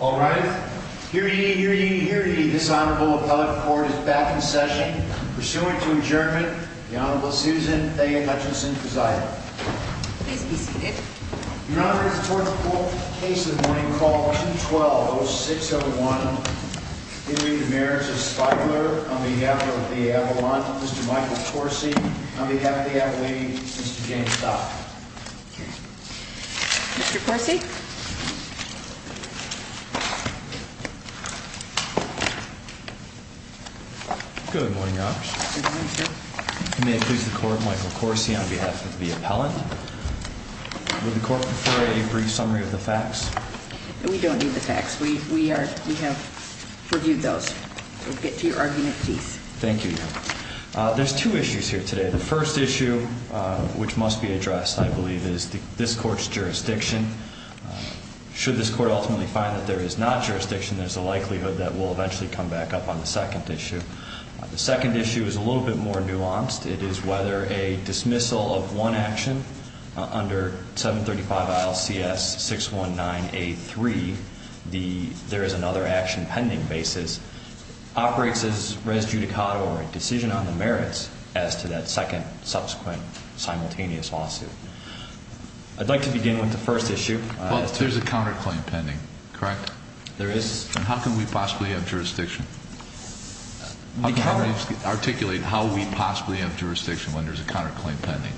All right. Hear ye, hear ye, hear ye. This Honorable Appellate Court is back in session. Pursuant to adjournment, the Honorable Susan A. Hutchinson presiding. Please be seated. We now bring forth the case of the morning called 2-12-06-01. In re Marriage of Spiegler, on behalf of the Avalon, Mr. Michael Corsi. On behalf of the Avaline, Mr. James Stock. Mr. Corsi. Good morning, Your Honor. Good morning, sir. May I please the Court, Michael Corsi, on behalf of the Appellant. Would the Court prefer a brief summary of the facts? We don't need the facts. We are, we have reviewed those. We'll get to your argument, please. Thank you, Your Honor. There's two issues here today. The first issue, which must be addressed, I believe, is this Court's jurisdiction. Should this Court ultimately find that there is not jurisdiction, there's a likelihood that we'll eventually come back up on the second issue. The second issue is a little bit more nuanced. It is whether a dismissal of one action under 735 ILCS 619A3, there is another action pending basis, operates as res judicata or a decision on the merits as to that second subsequent simultaneous lawsuit. I'd like to begin with the first issue. Well, there's a counterclaim pending, correct? There is. How can we possibly have jurisdiction? How can we articulate how we possibly have jurisdiction when there's a counterclaim pending?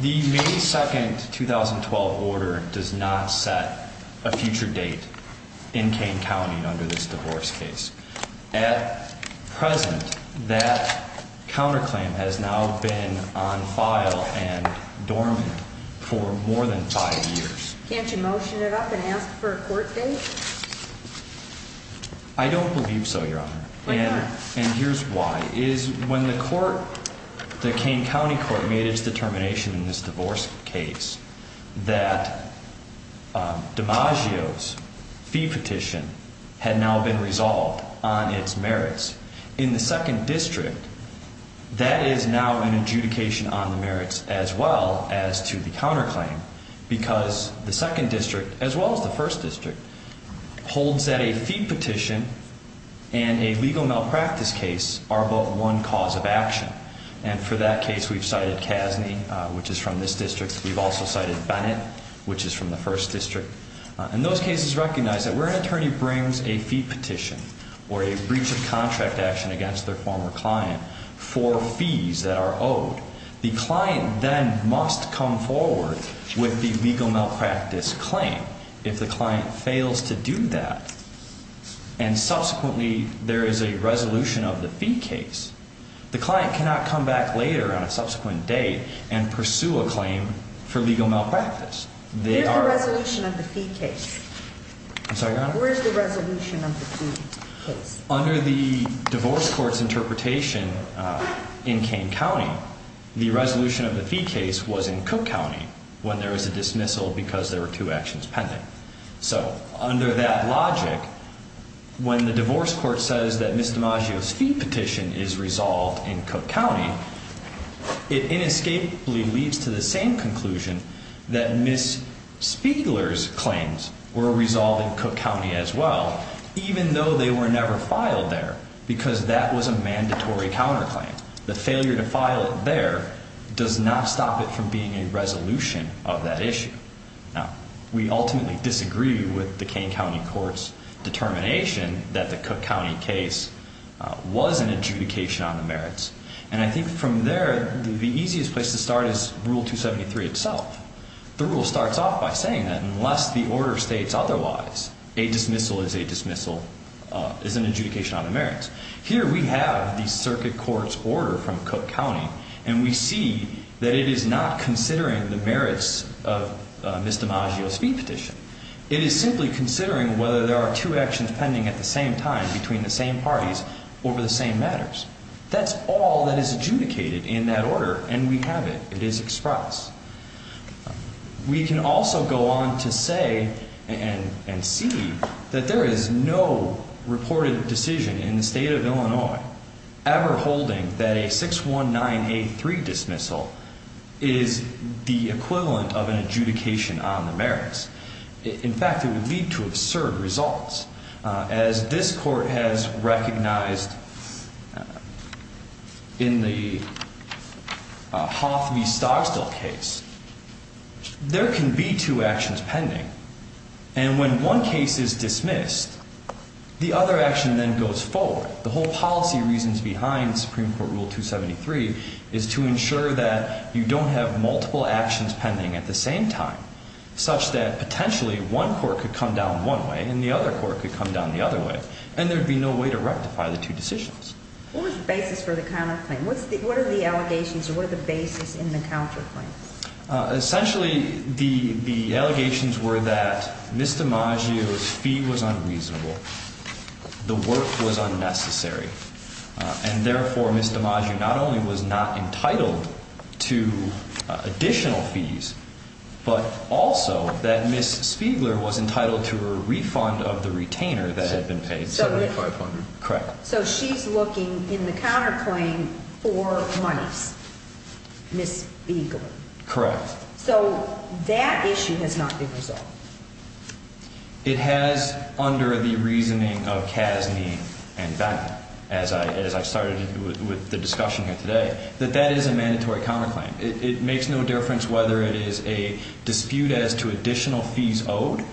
The May 2nd, 2012 order does not set a future date in Kane County under this divorce case. At present, that counterclaim has now been on file and dormant for more than five years. Can't you motion it up and ask for a court date? I don't believe so, Your Honor. Why not? And here's why. When the Kane County Court made its determination in this divorce case that DiMaggio's fee petition had now been resolved on its merits, in the second district, that is now an adjudication on the merits as well as to the counterclaim because the second district, as well as the first district, holds that a fee petition and a legal malpractice case are both one cause of action. And for that case, we've cited Casney, which is from this district. We've also cited Bennett, which is from the first district. And those cases recognize that where an attorney brings a fee petition or a breach of contract action against their former client for fees that are owed, the client then must come forward with the legal malpractice claim. If the client fails to do that and subsequently there is a resolution of the fee case, the client cannot come back later on a subsequent date and pursue a claim for legal malpractice. Where's the resolution of the fee case? I'm sorry, Your Honor? Where's the resolution of the fee case? Under the divorce court's interpretation in Kane County, the resolution of the fee case was in Cook County when there was a dismissal because there were two actions pending. So under that logic, when the divorce court says that Ms. DiMaggio's fee petition is resolved in Cook County, it inescapably leads to the same conclusion that Ms. Spiegler's claims were resolved in Cook County as well, even though they were never filed there because that was a mandatory counterclaim. The failure to file it there does not stop it from being a resolution of that issue. Now, we ultimately disagree with the Kane County Court's determination that the Cook County case was an adjudication on the merits. And I think from there, the easiest place to start is Rule 273 itself. The rule starts off by saying that unless the order states otherwise, a dismissal is a dismissal, is an adjudication on the merits. Here we have the circuit court's order from Cook County, and we see that it is not considering the merits of Ms. DiMaggio's fee petition. It is simply considering whether there are two actions pending at the same time between the same parties over the same matters. That's all that is adjudicated in that order, and we have it. It is express. We can also go on to say and see that there is no reported decision in the state of Illinois ever holding that a 619A3 dismissal is the equivalent of an adjudication on the merits. In fact, it would lead to absurd results. As this court has recognized in the Hoth v. Stogstill case, there can be two actions pending. And when one case is dismissed, the other action then goes forward. The whole policy reasons behind Supreme Court Rule 273 is to ensure that you don't have multiple actions pending at the same time, such that potentially one court could come down one way and the other court could come down the other way, and there would be no way to rectify the two decisions. What was the basis for the counterclaim? What are the allegations or what are the basis in the counterclaim? Essentially, the allegations were that Ms. DiMaggio's fee was unreasonable, the work was unnecessary, and therefore Ms. DiMaggio not only was not entitled to additional fees, but also that Ms. Spiegler was entitled to a refund of the retainer that had been paid. $7,500. Correct. So she's looking in the counterclaim for monies, Ms. Spiegler. Correct. So that issue has not been resolved. It has under the reasoning of Casney and Bennett, as I started with the discussion here today, that that is a mandatory counterclaim. It makes no difference whether it is a dispute as to additional fees owed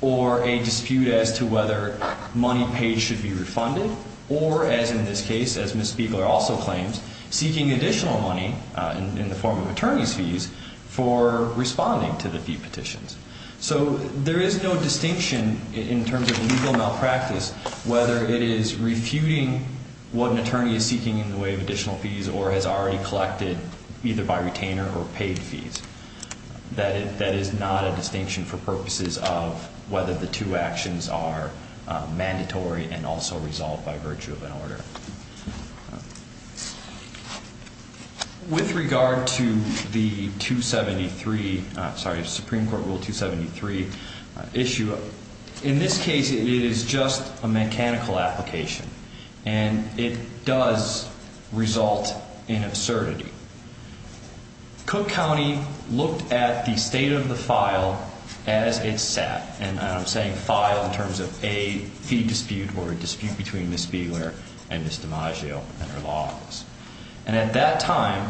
or a dispute as to whether money paid should be refunded or, as in this case, as Ms. Spiegler also claims, seeking additional money in the form of attorney's fees for responding to the fee petitions. So there is no distinction in terms of legal malpractice whether it is refuting what an attorney is seeking in the way of additional fees or has already collected either by retainer or paid fees. That is not a distinction for purposes of whether the two actions are mandatory and also resolved by virtue of an order. With regard to the 273, sorry, Supreme Court Rule 273 issue, in this case, it is just a mechanical application, and it does result in absurdity. I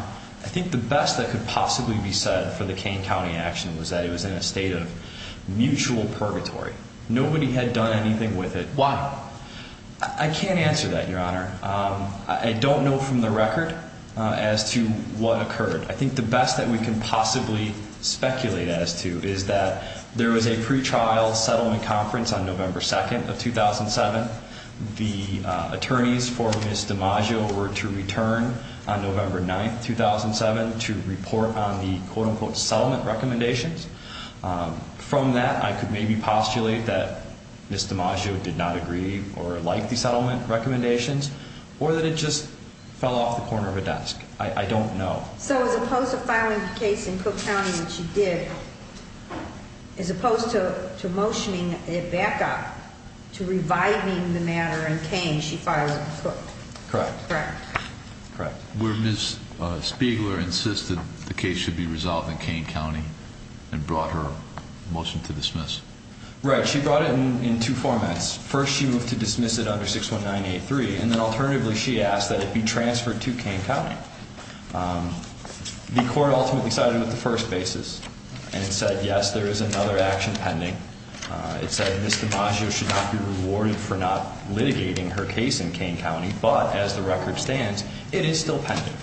think the best that could possibly be said for the Kane County action was that it was in a state of mutual purgatory. Nobody had done anything with it. Why? I can't answer that, Your Honor. I don't know from the record as to what occurred. I think the best that we can possibly speculate as to is that there was a pretrial settlement conference on November 2nd of 2007. The attorneys for Ms. DiMaggio were to return on November 9th, 2007, to report on the quote-unquote settlement recommendations. From that, I could maybe postulate that Ms. DiMaggio did not agree or like the settlement recommendations or that it just fell off the corner of a desk. I don't know. So as opposed to filing the case in Cook County, which she did, as opposed to motioning a backup to reviving the matter in Kane, she filed it in Cook? Correct. Correct. Correct. Where Ms. Spiegler insisted the case should be resolved in Kane County and brought her motion to dismiss. Right. She brought it in two formats. First, she moved to dismiss it under 61983, and then alternatively she asked that it be transferred to Kane County. The court ultimately sided with the first basis and said, yes, there is another action pending. It said Ms. DiMaggio should not be rewarded for not litigating her case in Kane County, but as the record stands, it is still pending.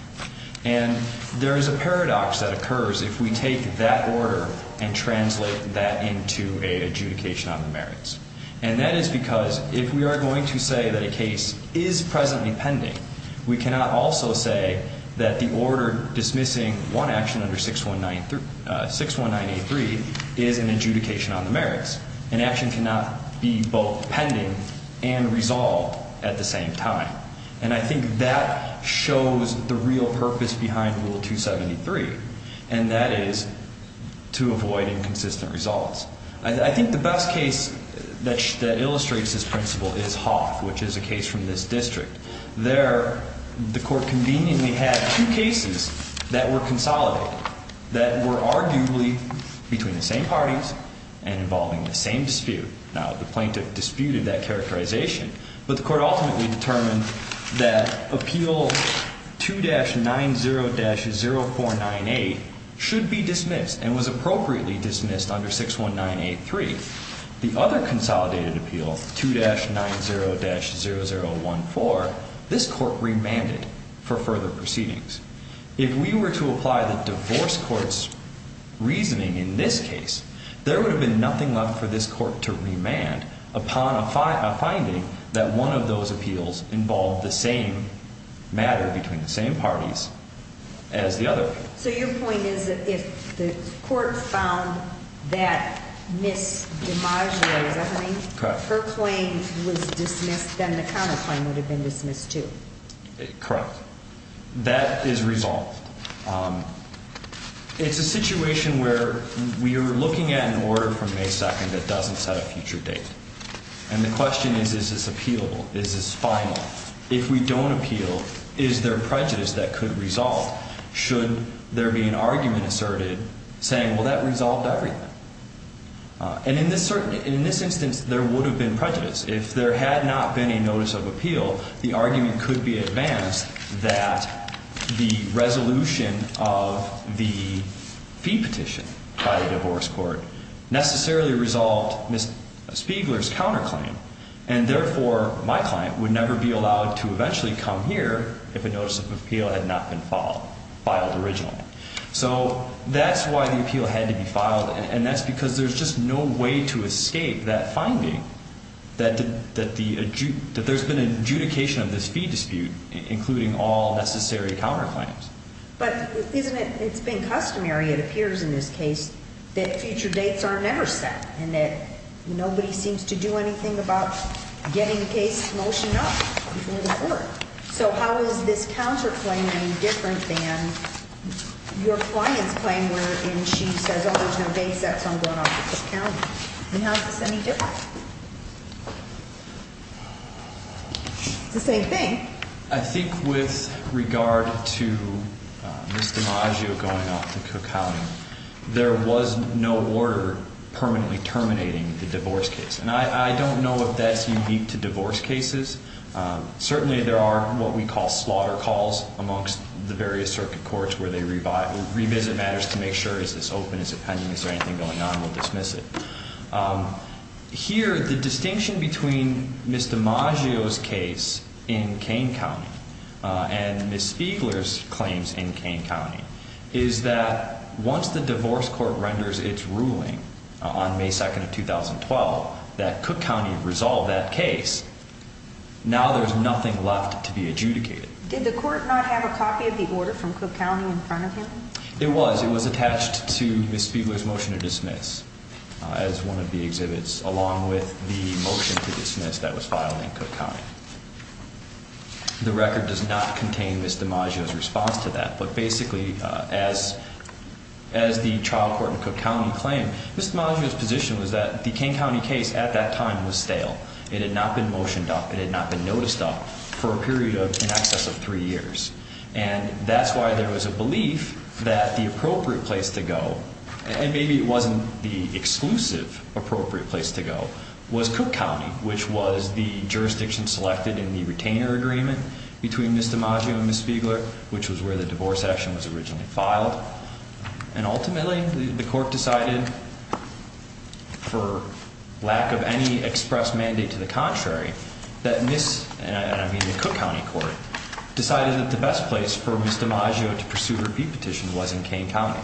And there is a paradox that occurs if we take that order and translate that into an adjudication on the merits. And that is because if we are going to say that a case is presently pending, we cannot also say that the order dismissing one action under 61983 is an adjudication on the merits. An action cannot be both pending and resolved at the same time. And I think that shows the real purpose behind Rule 273, and that is to avoid inconsistent results. I think the best case that illustrates this principle is Hoth, which is a case from this district. There the court conveniently had two cases that were consolidated that were arguably between the same parties and involving the same dispute. Now, the plaintiff disputed that characterization, but the court ultimately determined that Appeal 2-90-0498 should be dismissed and was appropriately dismissed under 61983. The other consolidated appeal, 2-90-0014, this court remanded for further proceedings. If we were to apply the divorce court's reasoning in this case, there would have been nothing left for this court to remand upon a finding that one of those appeals involved the same matter between the same parties as the other. So your point is that if the court found that Ms. Dimaggio, is that her name? Correct. Her claim was dismissed, then the counterclaim would have been dismissed, too. Correct. That is resolved. It's a situation where we are looking at an order from May 2nd that doesn't set a future date. And the question is, is this appealable? Is this final? If we don't appeal, is there prejudice that could resolve, should there be an argument asserted saying, well, that resolved everything? And in this instance, there would have been prejudice. If there had not been a notice of appeal, the argument could be advanced that the resolution of the fee petition by the divorce court necessarily resolved Ms. Spiegler's counterclaim. And, therefore, my client would never be allowed to eventually come here if a notice of appeal had not been filed originally. So that's why the appeal had to be filed, and that's because there's just no way to escape that finding that there's been adjudication of this fee dispute, including all necessary counterclaims. But isn't it, it's been customary, it appears in this case, that future dates are never set and that nobody seems to do anything about getting the case motioned up before the court. So how is this counterclaiming different than your client's claim where she says, oh, there's no date set, so I'm going off to Cook County? And how is this any different? It's the same thing. I think with regard to Ms. DiMaggio going off to Cook County, there was no order permanently terminating the divorce case. And I don't know if that's unique to divorce cases. Certainly there are what we call slaughter calls amongst the various circuit courts where they revisit matters to make sure is this open, is it pending, is there anything going on, we'll dismiss it. Here, the distinction between Ms. DiMaggio's case in Kane County and Ms. Spiegler's claims in Kane County is that once the divorce court renders its ruling on May 2nd of 2012 that Cook County resolve that case, now there's nothing left to be adjudicated. Did the court not have a copy of the order from Cook County in front of him? It was. It was attached to Ms. Spiegler's motion to dismiss as one of the exhibits along with the motion to dismiss that was filed in Cook County. The record does not contain Ms. DiMaggio's response to that. But basically, as the trial court in Cook County claimed, Ms. DiMaggio's position was that the Kane County case at that time was stale. It had not been motioned up. It had not been noticed up for a period in excess of three years. And that's why there was a belief that the appropriate place to go, and maybe it wasn't the exclusive appropriate place to go, was Cook County, which was the jurisdiction selected in the retainer agreement between Ms. DiMaggio and Ms. Spiegler, which was where the divorce action was originally filed. And ultimately, the court decided, for lack of any express mandate to the contrary, that Ms., and I mean the Cook County court, decided that the best place for Ms. DiMaggio to pursue her beat petition was in Kane County.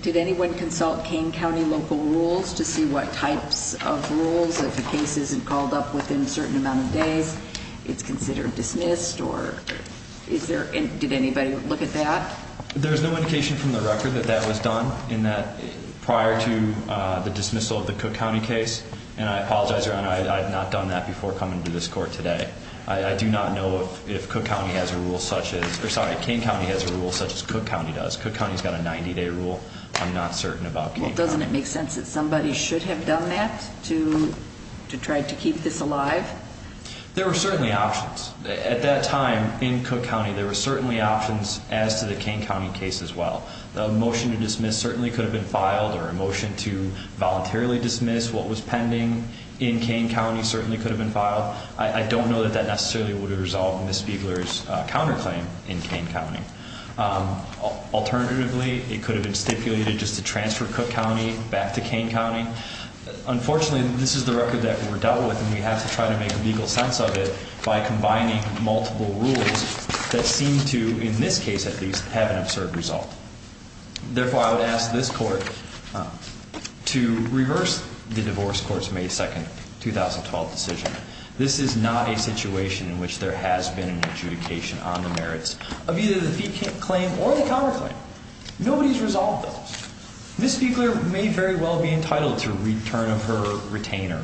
Did anyone consult Kane County local rules to see what types of rules, if the case isn't called up within a certain amount of days, it's considered dismissed, or is there, did anybody look at that? There's no indication from the record that that was done, in that prior to the dismissal of the Cook County case, and I apologize, Your Honor, I had not done that before coming to this court today. I do not know if Cook County has a rule such as, or sorry, Kane County has a rule such as Cook County does. Cook County's got a 90-day rule. I'm not certain about Kane County. Well, doesn't it make sense that somebody should have done that to try to keep this alive? There were certainly options. At that time, in Cook County, there were certainly options as to the Kane County case as well. The motion to dismiss certainly could have been filed, or a motion to voluntarily dismiss what was pending in Kane County certainly could have been filed. I don't know that that necessarily would have resolved Ms. Spiegler's counterclaim in Kane County. Alternatively, it could have been stipulated just to transfer Cook County back to Kane County. Unfortunately, this is the record that we're dealt with, and we have to try to make a legal sense of it by combining multiple rules that seem to, in this case at least, have an absurd result. Therefore, I would ask this court to reverse the divorce court's May 2, 2012 decision. This is not a situation in which there has been an adjudication on the merits of either the fee claim or the counterclaim. Nobody's resolved those. Ms. Spiegler may very well be entitled to a return of her retainer.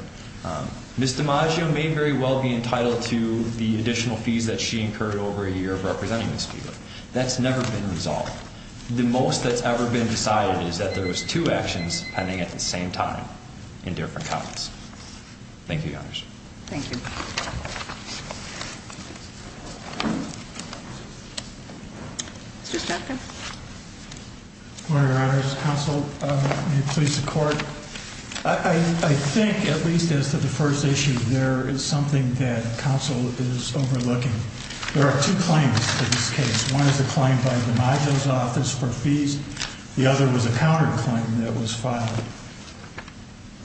Ms. DiMaggio may very well be entitled to the additional fees that she incurred over a year of representing Ms. Spiegler. That's never been resolved. The most that's ever been decided is that there was two actions pending at the same time in different counties. Thank you, Your Honors. Thank you. Mr. Stockton? Your Honors, counsel, may it please the court? I think at least as to the first issue, there is something that counsel is overlooking. There are two claims in this case. One is a claim by DiMaggio's office for fees. The other was a counterclaim that was filed.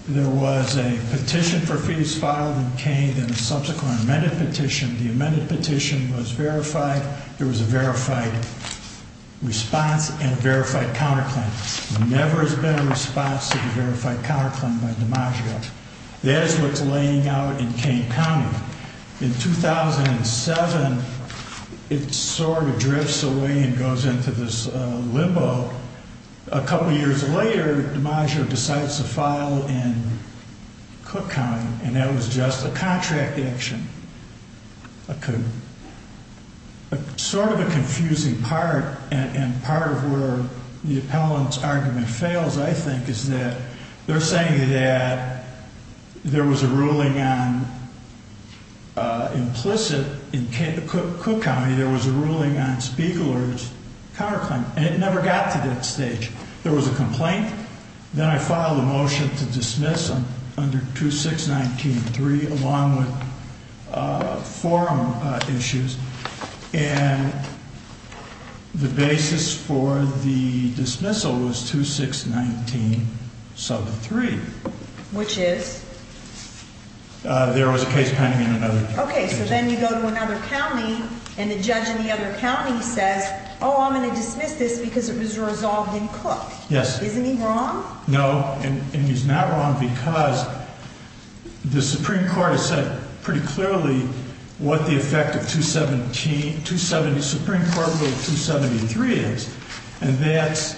There was a petition for fees filed in Kane and a subsequent amended petition. The amended petition was verified. There was a verified response and a verified counterclaim. There never has been a response to the verified counterclaim by DiMaggio. That is what's laying out in Kane County. In 2007, it sort of drifts away and goes into this limbo. A couple years later, DiMaggio decides to file in Cook County, and that was just a contract action. Sort of a confusing part, and part of where the appellant's argument fails, I think, is that they're saying that there was a ruling on implicit. In Cook County, there was a ruling on Spiegeler's counterclaim, and it never got to that stage. There was a complaint. Then I filed a motion to dismiss under 2619.3, along with forum issues, and the basis for the dismissal was 2619.73. Which is? There was a case pending in another county. Okay, so then you go to another county, and the judge in the other county says, Oh, I'm going to dismiss this because it was resolved in Cook. Yes. Isn't he wrong? No, and he's not wrong because the Supreme Court has said pretty clearly what the effect of 273 is, and that's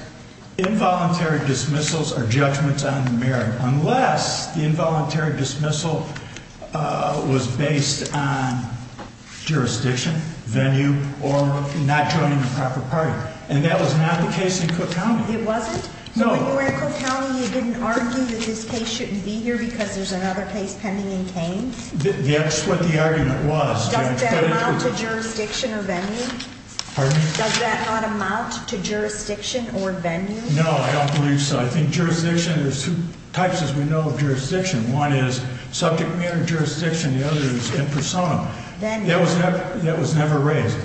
involuntary dismissals are judgments on merit, unless the involuntary dismissal was based on jurisdiction, venue, or not joining the proper party, and that was not the case in Cook County. It wasn't? No. So when you were in Cook County, you didn't argue that this case shouldn't be here because there's another case pending in Kane? That's what the argument was. Does that amount to jurisdiction or venue? Pardon me? Does that not amount to jurisdiction or venue? No, I don't believe so. I think jurisdiction, there's two types, as we know, of jurisdiction. One is subject matter jurisdiction, the other is in persona. Venue. That was never raised.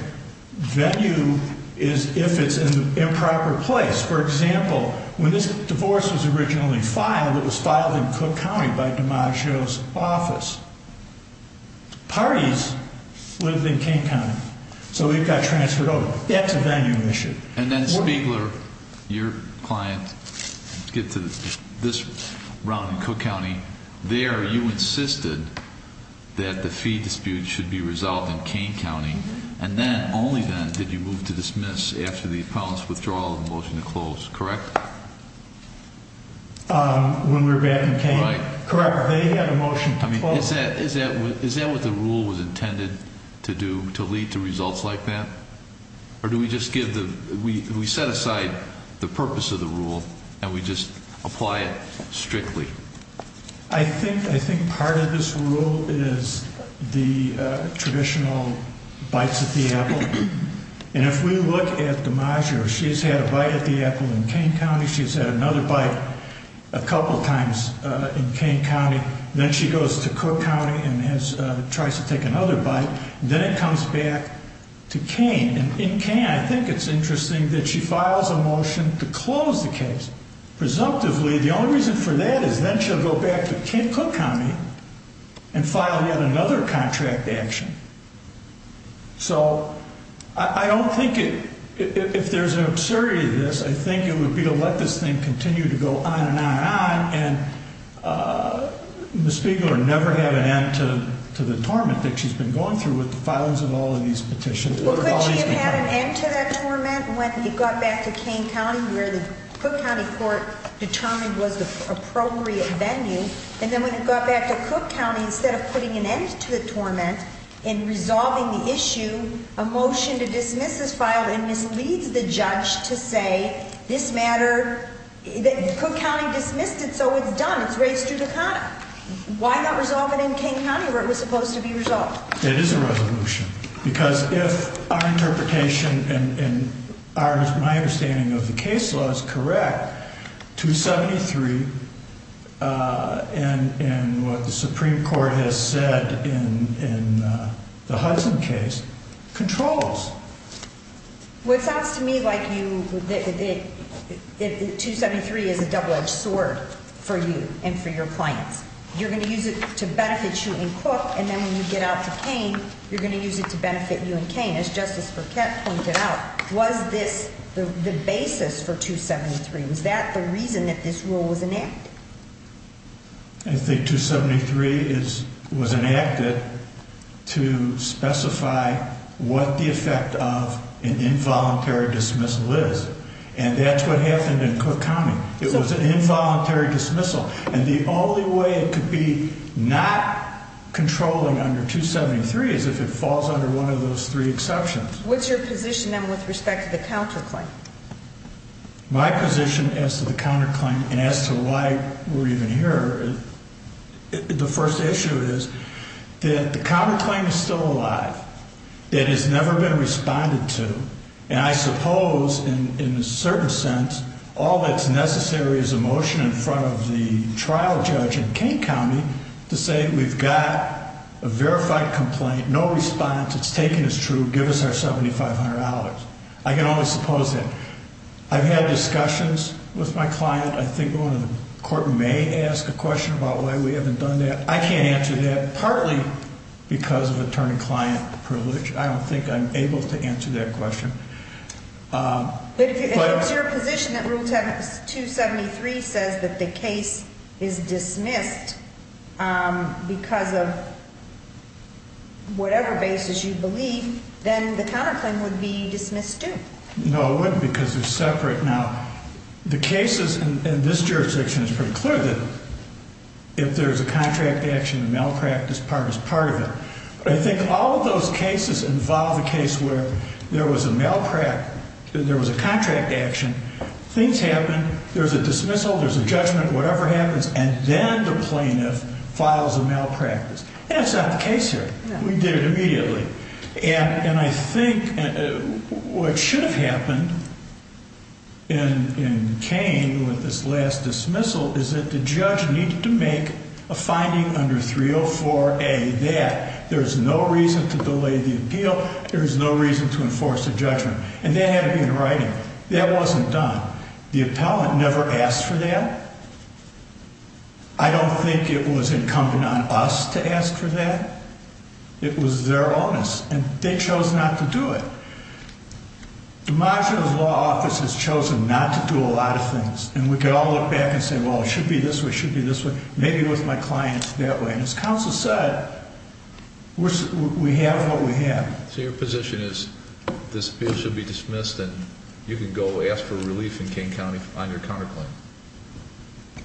Venue is if it's in the improper place. For example, when this divorce was originally filed, it was filed in Cook County by DiMaggio's office. Parties lived in Kane County, so it got transferred over. That's a venue issue. And then, Spiegler, your client, get to this round in Cook County, there you insisted that the fee dispute should be resolved in Kane County, and then, only then, did you move to dismiss after the appellant's withdrawal of the motion to close, correct? When we were back in Kane? Correct. They had a motion to close. Is that what the rule was intended to do, to lead to results like that? Or do we just give the, we set aside the purpose of the rule, and we just apply it strictly? I think part of this rule is the traditional bites at the apple. And if we look at DiMaggio, she's had a bite at the apple in Kane County, she's had another bite a couple times in Kane County, then she goes to Cook County and tries to take another bite, then it comes back to Kane. In Kane, I think it's interesting that she files a motion to close the case. Presumptively, the only reason for that is then she'll go back to Cook County and file yet another contract action. So, I don't think it, if there's an absurdity to this, I think it would be to let this thing continue to go on and on and on, and Ms. Spiegeler never have an end to the torment that she's been going through with the filings of all of these petitions. Well, couldn't she have had an end to that torment when it got back to Kane County, where the Cook County court determined was the appropriate venue? And then when it got back to Cook County, instead of putting an end to the torment and resolving the issue, a motion to dismiss is filed and misleads the judge to say, this matter, Cook County dismissed it, so it's done, it's raised judicata. Why not resolve it in Kane County where it was supposed to be resolved? It is a resolution, because if our interpretation and my understanding of the case law is correct, 273 and what the Supreme Court has said in the Hudson case controls. Well, it sounds to me like 273 is a double-edged sword for you and for your clients. You're going to use it to benefit you and Cook, and then when you get out to Kane, you're going to use it to benefit you and Kane. As Justice Burkett pointed out, was this the basis for 273? Was that the reason that this rule was enacted? I think 273 was enacted to specify what the effect of an involuntary dismissal is, and that's what happened in Cook County. It was an involuntary dismissal, and the only way it could be not controlling under 273 is if it falls under one of those three exceptions. What's your position, then, with respect to the counterclaim? My position as to the counterclaim and as to why we're even here, the first issue is that the counterclaim is still alive. It has never been responded to, and I suppose in a certain sense all that's necessary is a motion in front of the trial judge in Kane County to say we've got a verified complaint, no response, it's taken as true, give us our $7,500. I can only suppose that. I've had discussions with my client. I think one of the court may ask a question about why we haven't done that. I can't answer that, partly because of attorney-client privilege. I don't think I'm able to answer that question. But if it's your position that Rule 273 says that the case is dismissed because of whatever basis you believe, then the counterclaim would be dismissed, too. No, it wouldn't, because they're separate. Now, the cases in this jurisdiction, it's pretty clear that if there's a contract action, a malpractice part is part of it. I think all of those cases involve a case where there was a contract action, things happen, there's a dismissal, there's a judgment, whatever happens, and then the plaintiff files a malpractice. That's not the case here. We did it immediately. And I think what should have happened in Kane with this last dismissal is that the judge needed to make a finding under 304A that there's no reason to delay the appeal, there's no reason to enforce a judgment. And that had to be in writing. That wasn't done. The appellant never asked for that. I don't think it was incumbent on us to ask for that. It was their onus. And they chose not to do it. DeMaggio's law office has chosen not to do a lot of things. And we could all look back and say, well, it should be this way, it should be this way, maybe it was my client's that way. And as counsel said, we have what we have. So your position is this appeal should be dismissed and you can go ask for relief in Kane County on your counterclaim?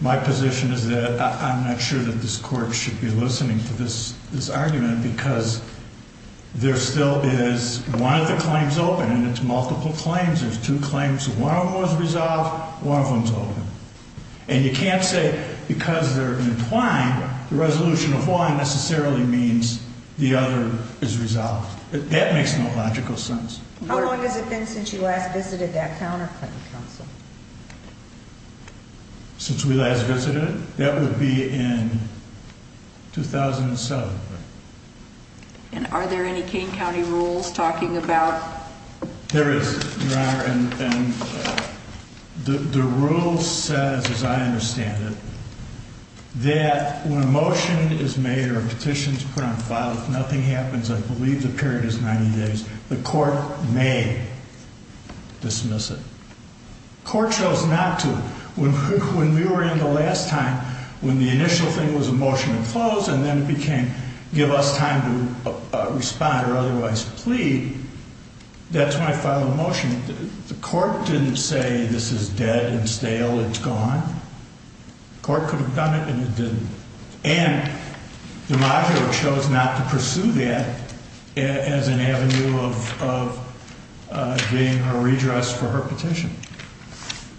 My position is that I'm not sure that this court should be listening to this argument because there still is one of the claims open and it's multiple claims. There's two claims. One of them was resolved. One of them is open. And you can't say because they're entwined, the resolution of one necessarily means the other is resolved. That makes no logical sense. How long has it been since you last visited that counterclaim? Since we last visited it? That would be in 2007. And are there any Kane County rules talking about? There is, Your Honor. And the rule says, as I understand it, that when a motion is made or a petition is put on file, if nothing happens, I believe the period is 90 days. The court may dismiss it. The court chose not to. When we were in the last time, when the initial thing was a motion to close and then it became give us time to respond or otherwise plead, that's when I filed a motion. The court didn't say this is dead and stale, it's gone. The court could have done it and it didn't. And DiMaggio chose not to pursue that as an avenue of getting her redress for her petition.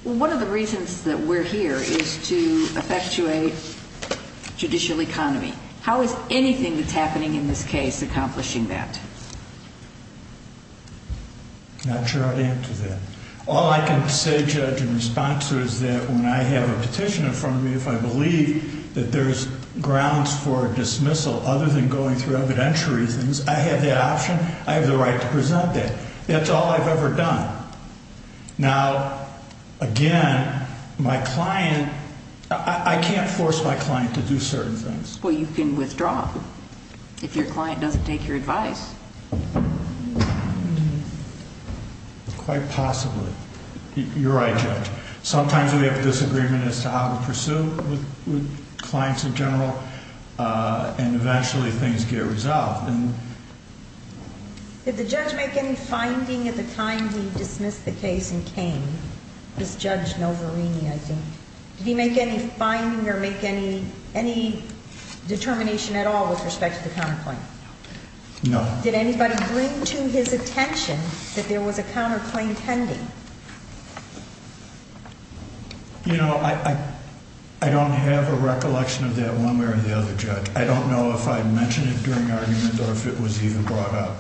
Well, one of the reasons that we're here is to effectuate judicial economy. How is anything that's happening in this case accomplishing that? Not sure how to answer that. All I can say, Judge, in response to it is that when I have a petition in front of me, if I believe that there's grounds for dismissal other than going through evidentiary things, I have that option. I have the right to present that. That's all I've ever done. Now, again, my client, I can't force my client to do certain things. Well, you can withdraw if your client doesn't take your advice. Quite possibly. You're right, Judge. Sometimes we have a disagreement as to how to pursue with clients in general, and eventually things get resolved. Did the judge make any finding at the time he dismissed the case in Kane? This Judge Novarini, I think. Did he make any finding or make any determination at all with respect to the counterpoint? No. Did anybody bring to his attention that there was a counterclaim pending? You know, I don't have a recollection of that one way or the other, Judge. I don't know if I mentioned it during argument or if it was even brought up.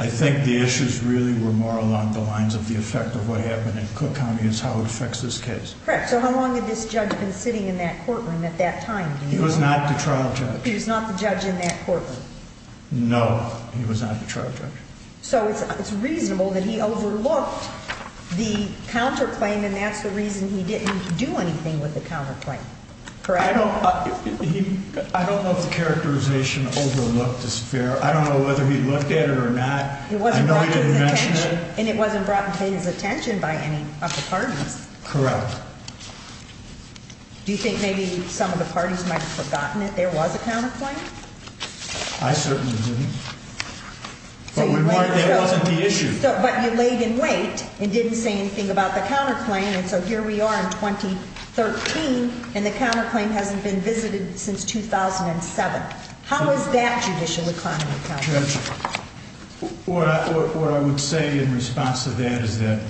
I think the issues really were more along the lines of the effect of what happened in Cook County as how it affects this case. Correct. So how long had this judge been sitting in that courtroom at that time? He was not the trial judge. He was not the judge in that courtroom. No, he was not the trial judge. So it's reasonable that he overlooked the counterclaim, and that's the reason he didn't do anything with the counterclaim, correct? I don't know if the characterization overlooked is fair. I don't know whether he looked at it or not. I know he didn't mention it. And it wasn't brought to his attention by any of the parties. Correct. Do you think maybe some of the parties might have forgotten that there was a counterclaim? I certainly didn't. But that wasn't the issue. But you laid in wait and didn't say anything about the counterclaim, and so here we are in 2013, and the counterclaim hasn't been visited since 2007. How is that judicial economy? Judge, what I would say in response to that is that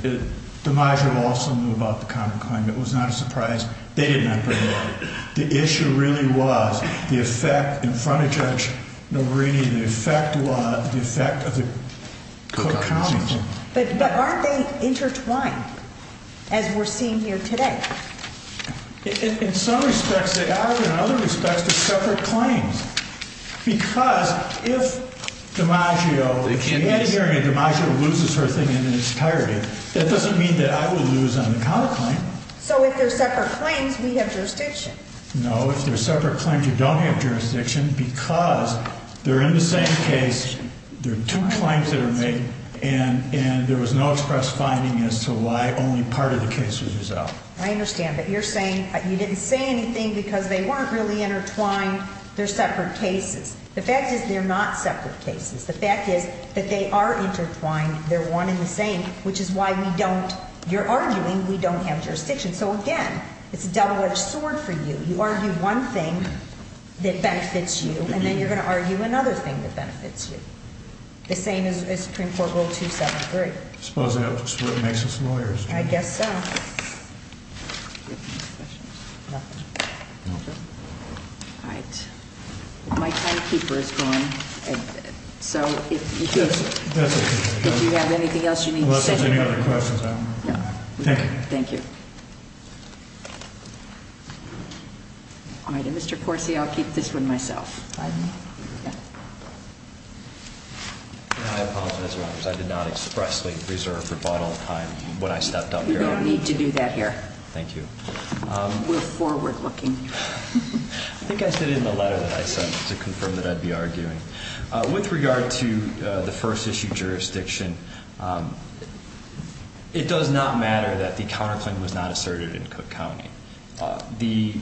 DeMaggio also knew about the counterclaim. It was not a surprise. They didn't have to know. The issue really was the effect in front of Judge Nogherini, the effect of the counterclaim. But aren't they intertwined, as we're seeing here today? In some respects they are. In other respects, they're separate claims. Because if DeMaggio, if he had a hearing and DeMaggio loses her thing in its entirety, that doesn't mean that I would lose on the counterclaim. So if they're separate claims, we have jurisdiction. No, if they're separate claims, you don't have jurisdiction because they're in the same case. They're two claims that are made, and there was no express finding as to why only part of the case was resolved. I understand, but you're saying you didn't say anything because they weren't really intertwined. They're separate cases. The fact is they're not separate cases. The fact is that they are intertwined. They're one and the same, which is why we don't. You're arguing we don't have jurisdiction. So, again, it's a double-edged sword for you. You argue one thing that benefits you, and then you're going to argue another thing that benefits you. The same as Supreme Court Rule 273. I suppose that's what makes us lawyers. I guess so. All right. My timekeeper is gone. So if you have anything else you need to say. Unless there's any other questions, I don't know. Thank you. Thank you. All right, and Mr. Corsi, I'll keep this one myself. I apologize, Your Honors. I did not expressly reserve rebuttal time when I stepped up here. You don't need to do that here. Thank you. We're forward-looking. I think I said it in the letter that I sent to confirm that I'd be arguing. With regard to the first-issue jurisdiction, it does not matter that the counterclaim was not asserted in Cook County. The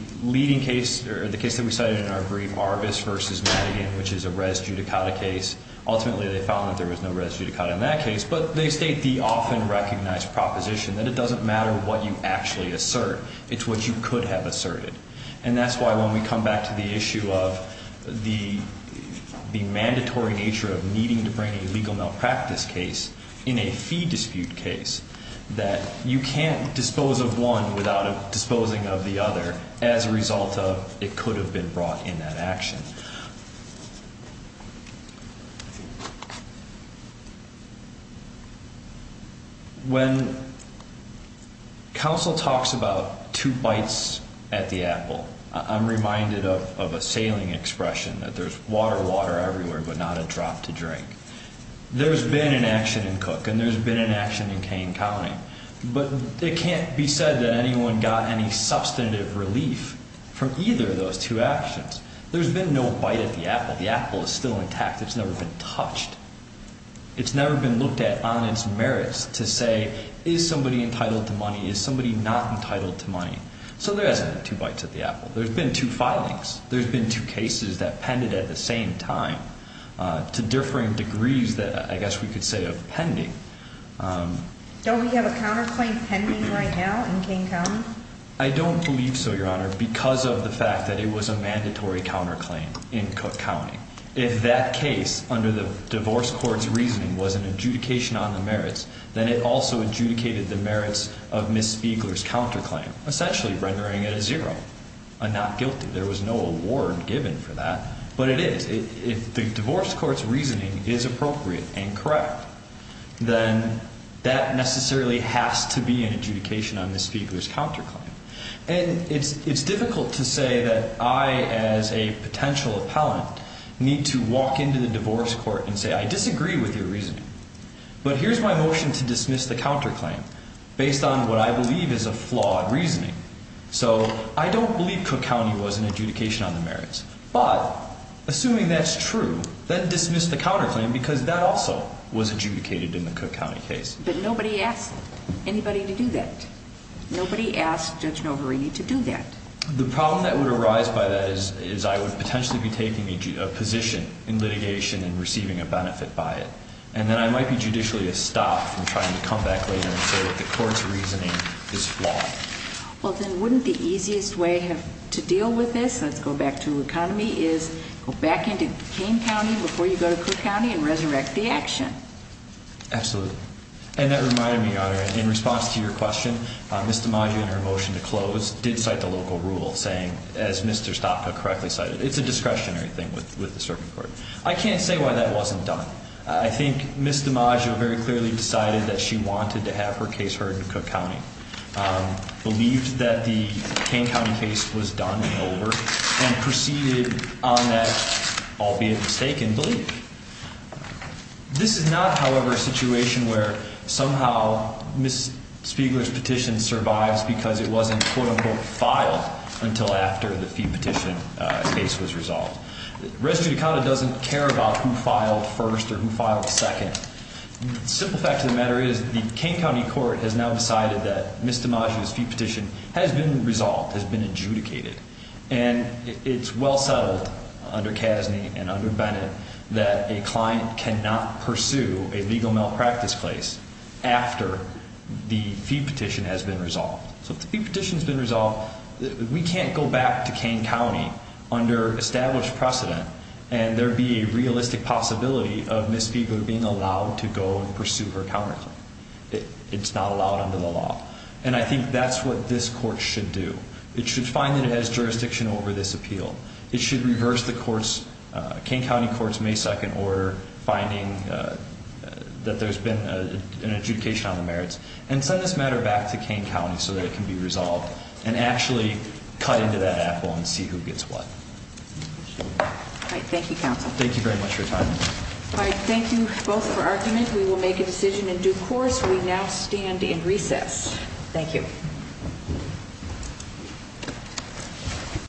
case that we cited in our brief, Arbus v. Madigan, which is a res judicata case, ultimately they found that there was no res judicata in that case. But they state the often-recognized proposition that it doesn't matter what you actually assert. It's what you could have asserted. And that's why when we come back to the issue of the mandatory nature of needing to bring a legal malpractice case in a fee dispute case, that you can't dispose of one without disposing of the other as a result of it could have been brought in that action. Thank you. When counsel talks about two bites at the apple, I'm reminded of a sailing expression, that there's water, water everywhere but not a drop to drink. There's been an action in Cook and there's been an action in Kane County. But it can't be said that anyone got any substantive relief from either of those two actions. There's been no bite at the apple. The apple is still intact. It's never been touched. It's never been looked at on its merits to say, is somebody entitled to money? Is somebody not entitled to money? So there hasn't been two bites at the apple. There's been two filings. There's been two cases that pended at the same time to differing degrees that I guess we could say of pending. Don't we have a counterclaim pending right now in Kane County? I don't believe so, Your Honor, because of the fact that it was a mandatory counterclaim in Cook County. If that case under the divorce court's reasoning was an adjudication on the merits, then it also adjudicated the merits of Ms. Feigler's counterclaim, essentially rendering it a zero, a not guilty. There was no award given for that. But it is. If the divorce court's reasoning is appropriate and correct, then that necessarily has to be an adjudication on Ms. Feigler's counterclaim. And it's difficult to say that I, as a potential appellant, need to walk into the divorce court and say, I disagree with your reasoning. But here's my motion to dismiss the counterclaim based on what I believe is a flawed reasoning. So I don't believe Cook County was an adjudication on the merits. But assuming that's true, then dismiss the counterclaim because that also was adjudicated in the Cook County case. But nobody asked anybody to do that. Nobody asked Judge Novarini to do that. The problem that would arise by that is I would potentially be taking a position in litigation and receiving a benefit by it. And then I might be judicially stopped from trying to come back later and say that the court's reasoning is flawed. Well, then wouldn't the easiest way to deal with this, let's go back to economy, is go back into Kane County before you go to Cook County and resurrect the action? Absolutely. And that reminded me, Your Honor, in response to your question, Ms. DiMaggio, in her motion to close, did cite the local rule saying, as Mr. Stopka correctly cited, it's a discretionary thing with the circuit court. I can't say why that wasn't done. I think Ms. DiMaggio very clearly decided that she wanted to have her case heard in Cook County, believed that the Kane County case was done and over, and proceeded on that, albeit mistaken, belief. This is not, however, a situation where somehow Ms. Spiegler's petition survives because it wasn't, quote, unquote, filed until after the fee petition case was resolved. Resolute Accountant doesn't care about who filed first or who filed second. The simple fact of the matter is the Kane County court has now decided that Ms. DiMaggio's fee petition has been resolved, has been adjudicated, and it's well settled under Casney and under Bennett that a client cannot pursue a legal malpractice case after the fee petition has been resolved. So if the fee petition has been resolved, we can't go back to Kane County under established precedent and there be a realistic possibility of Ms. Spiegler being allowed to go and pursue her counterclaim. It's not allowed under the law. And I think that's what this court should do. It should find that it has jurisdiction over this appeal. It should reverse the Kane County court's May 2nd order, finding that there's been an adjudication on the merits, and send this matter back to Kane County so that it can be resolved and actually cut into that apple and see who gets what. All right. Thank you, counsel. Thank you very much for your time. All right. Thank you both for argument. We will make a decision in due course. We now stand in recess. Thank you.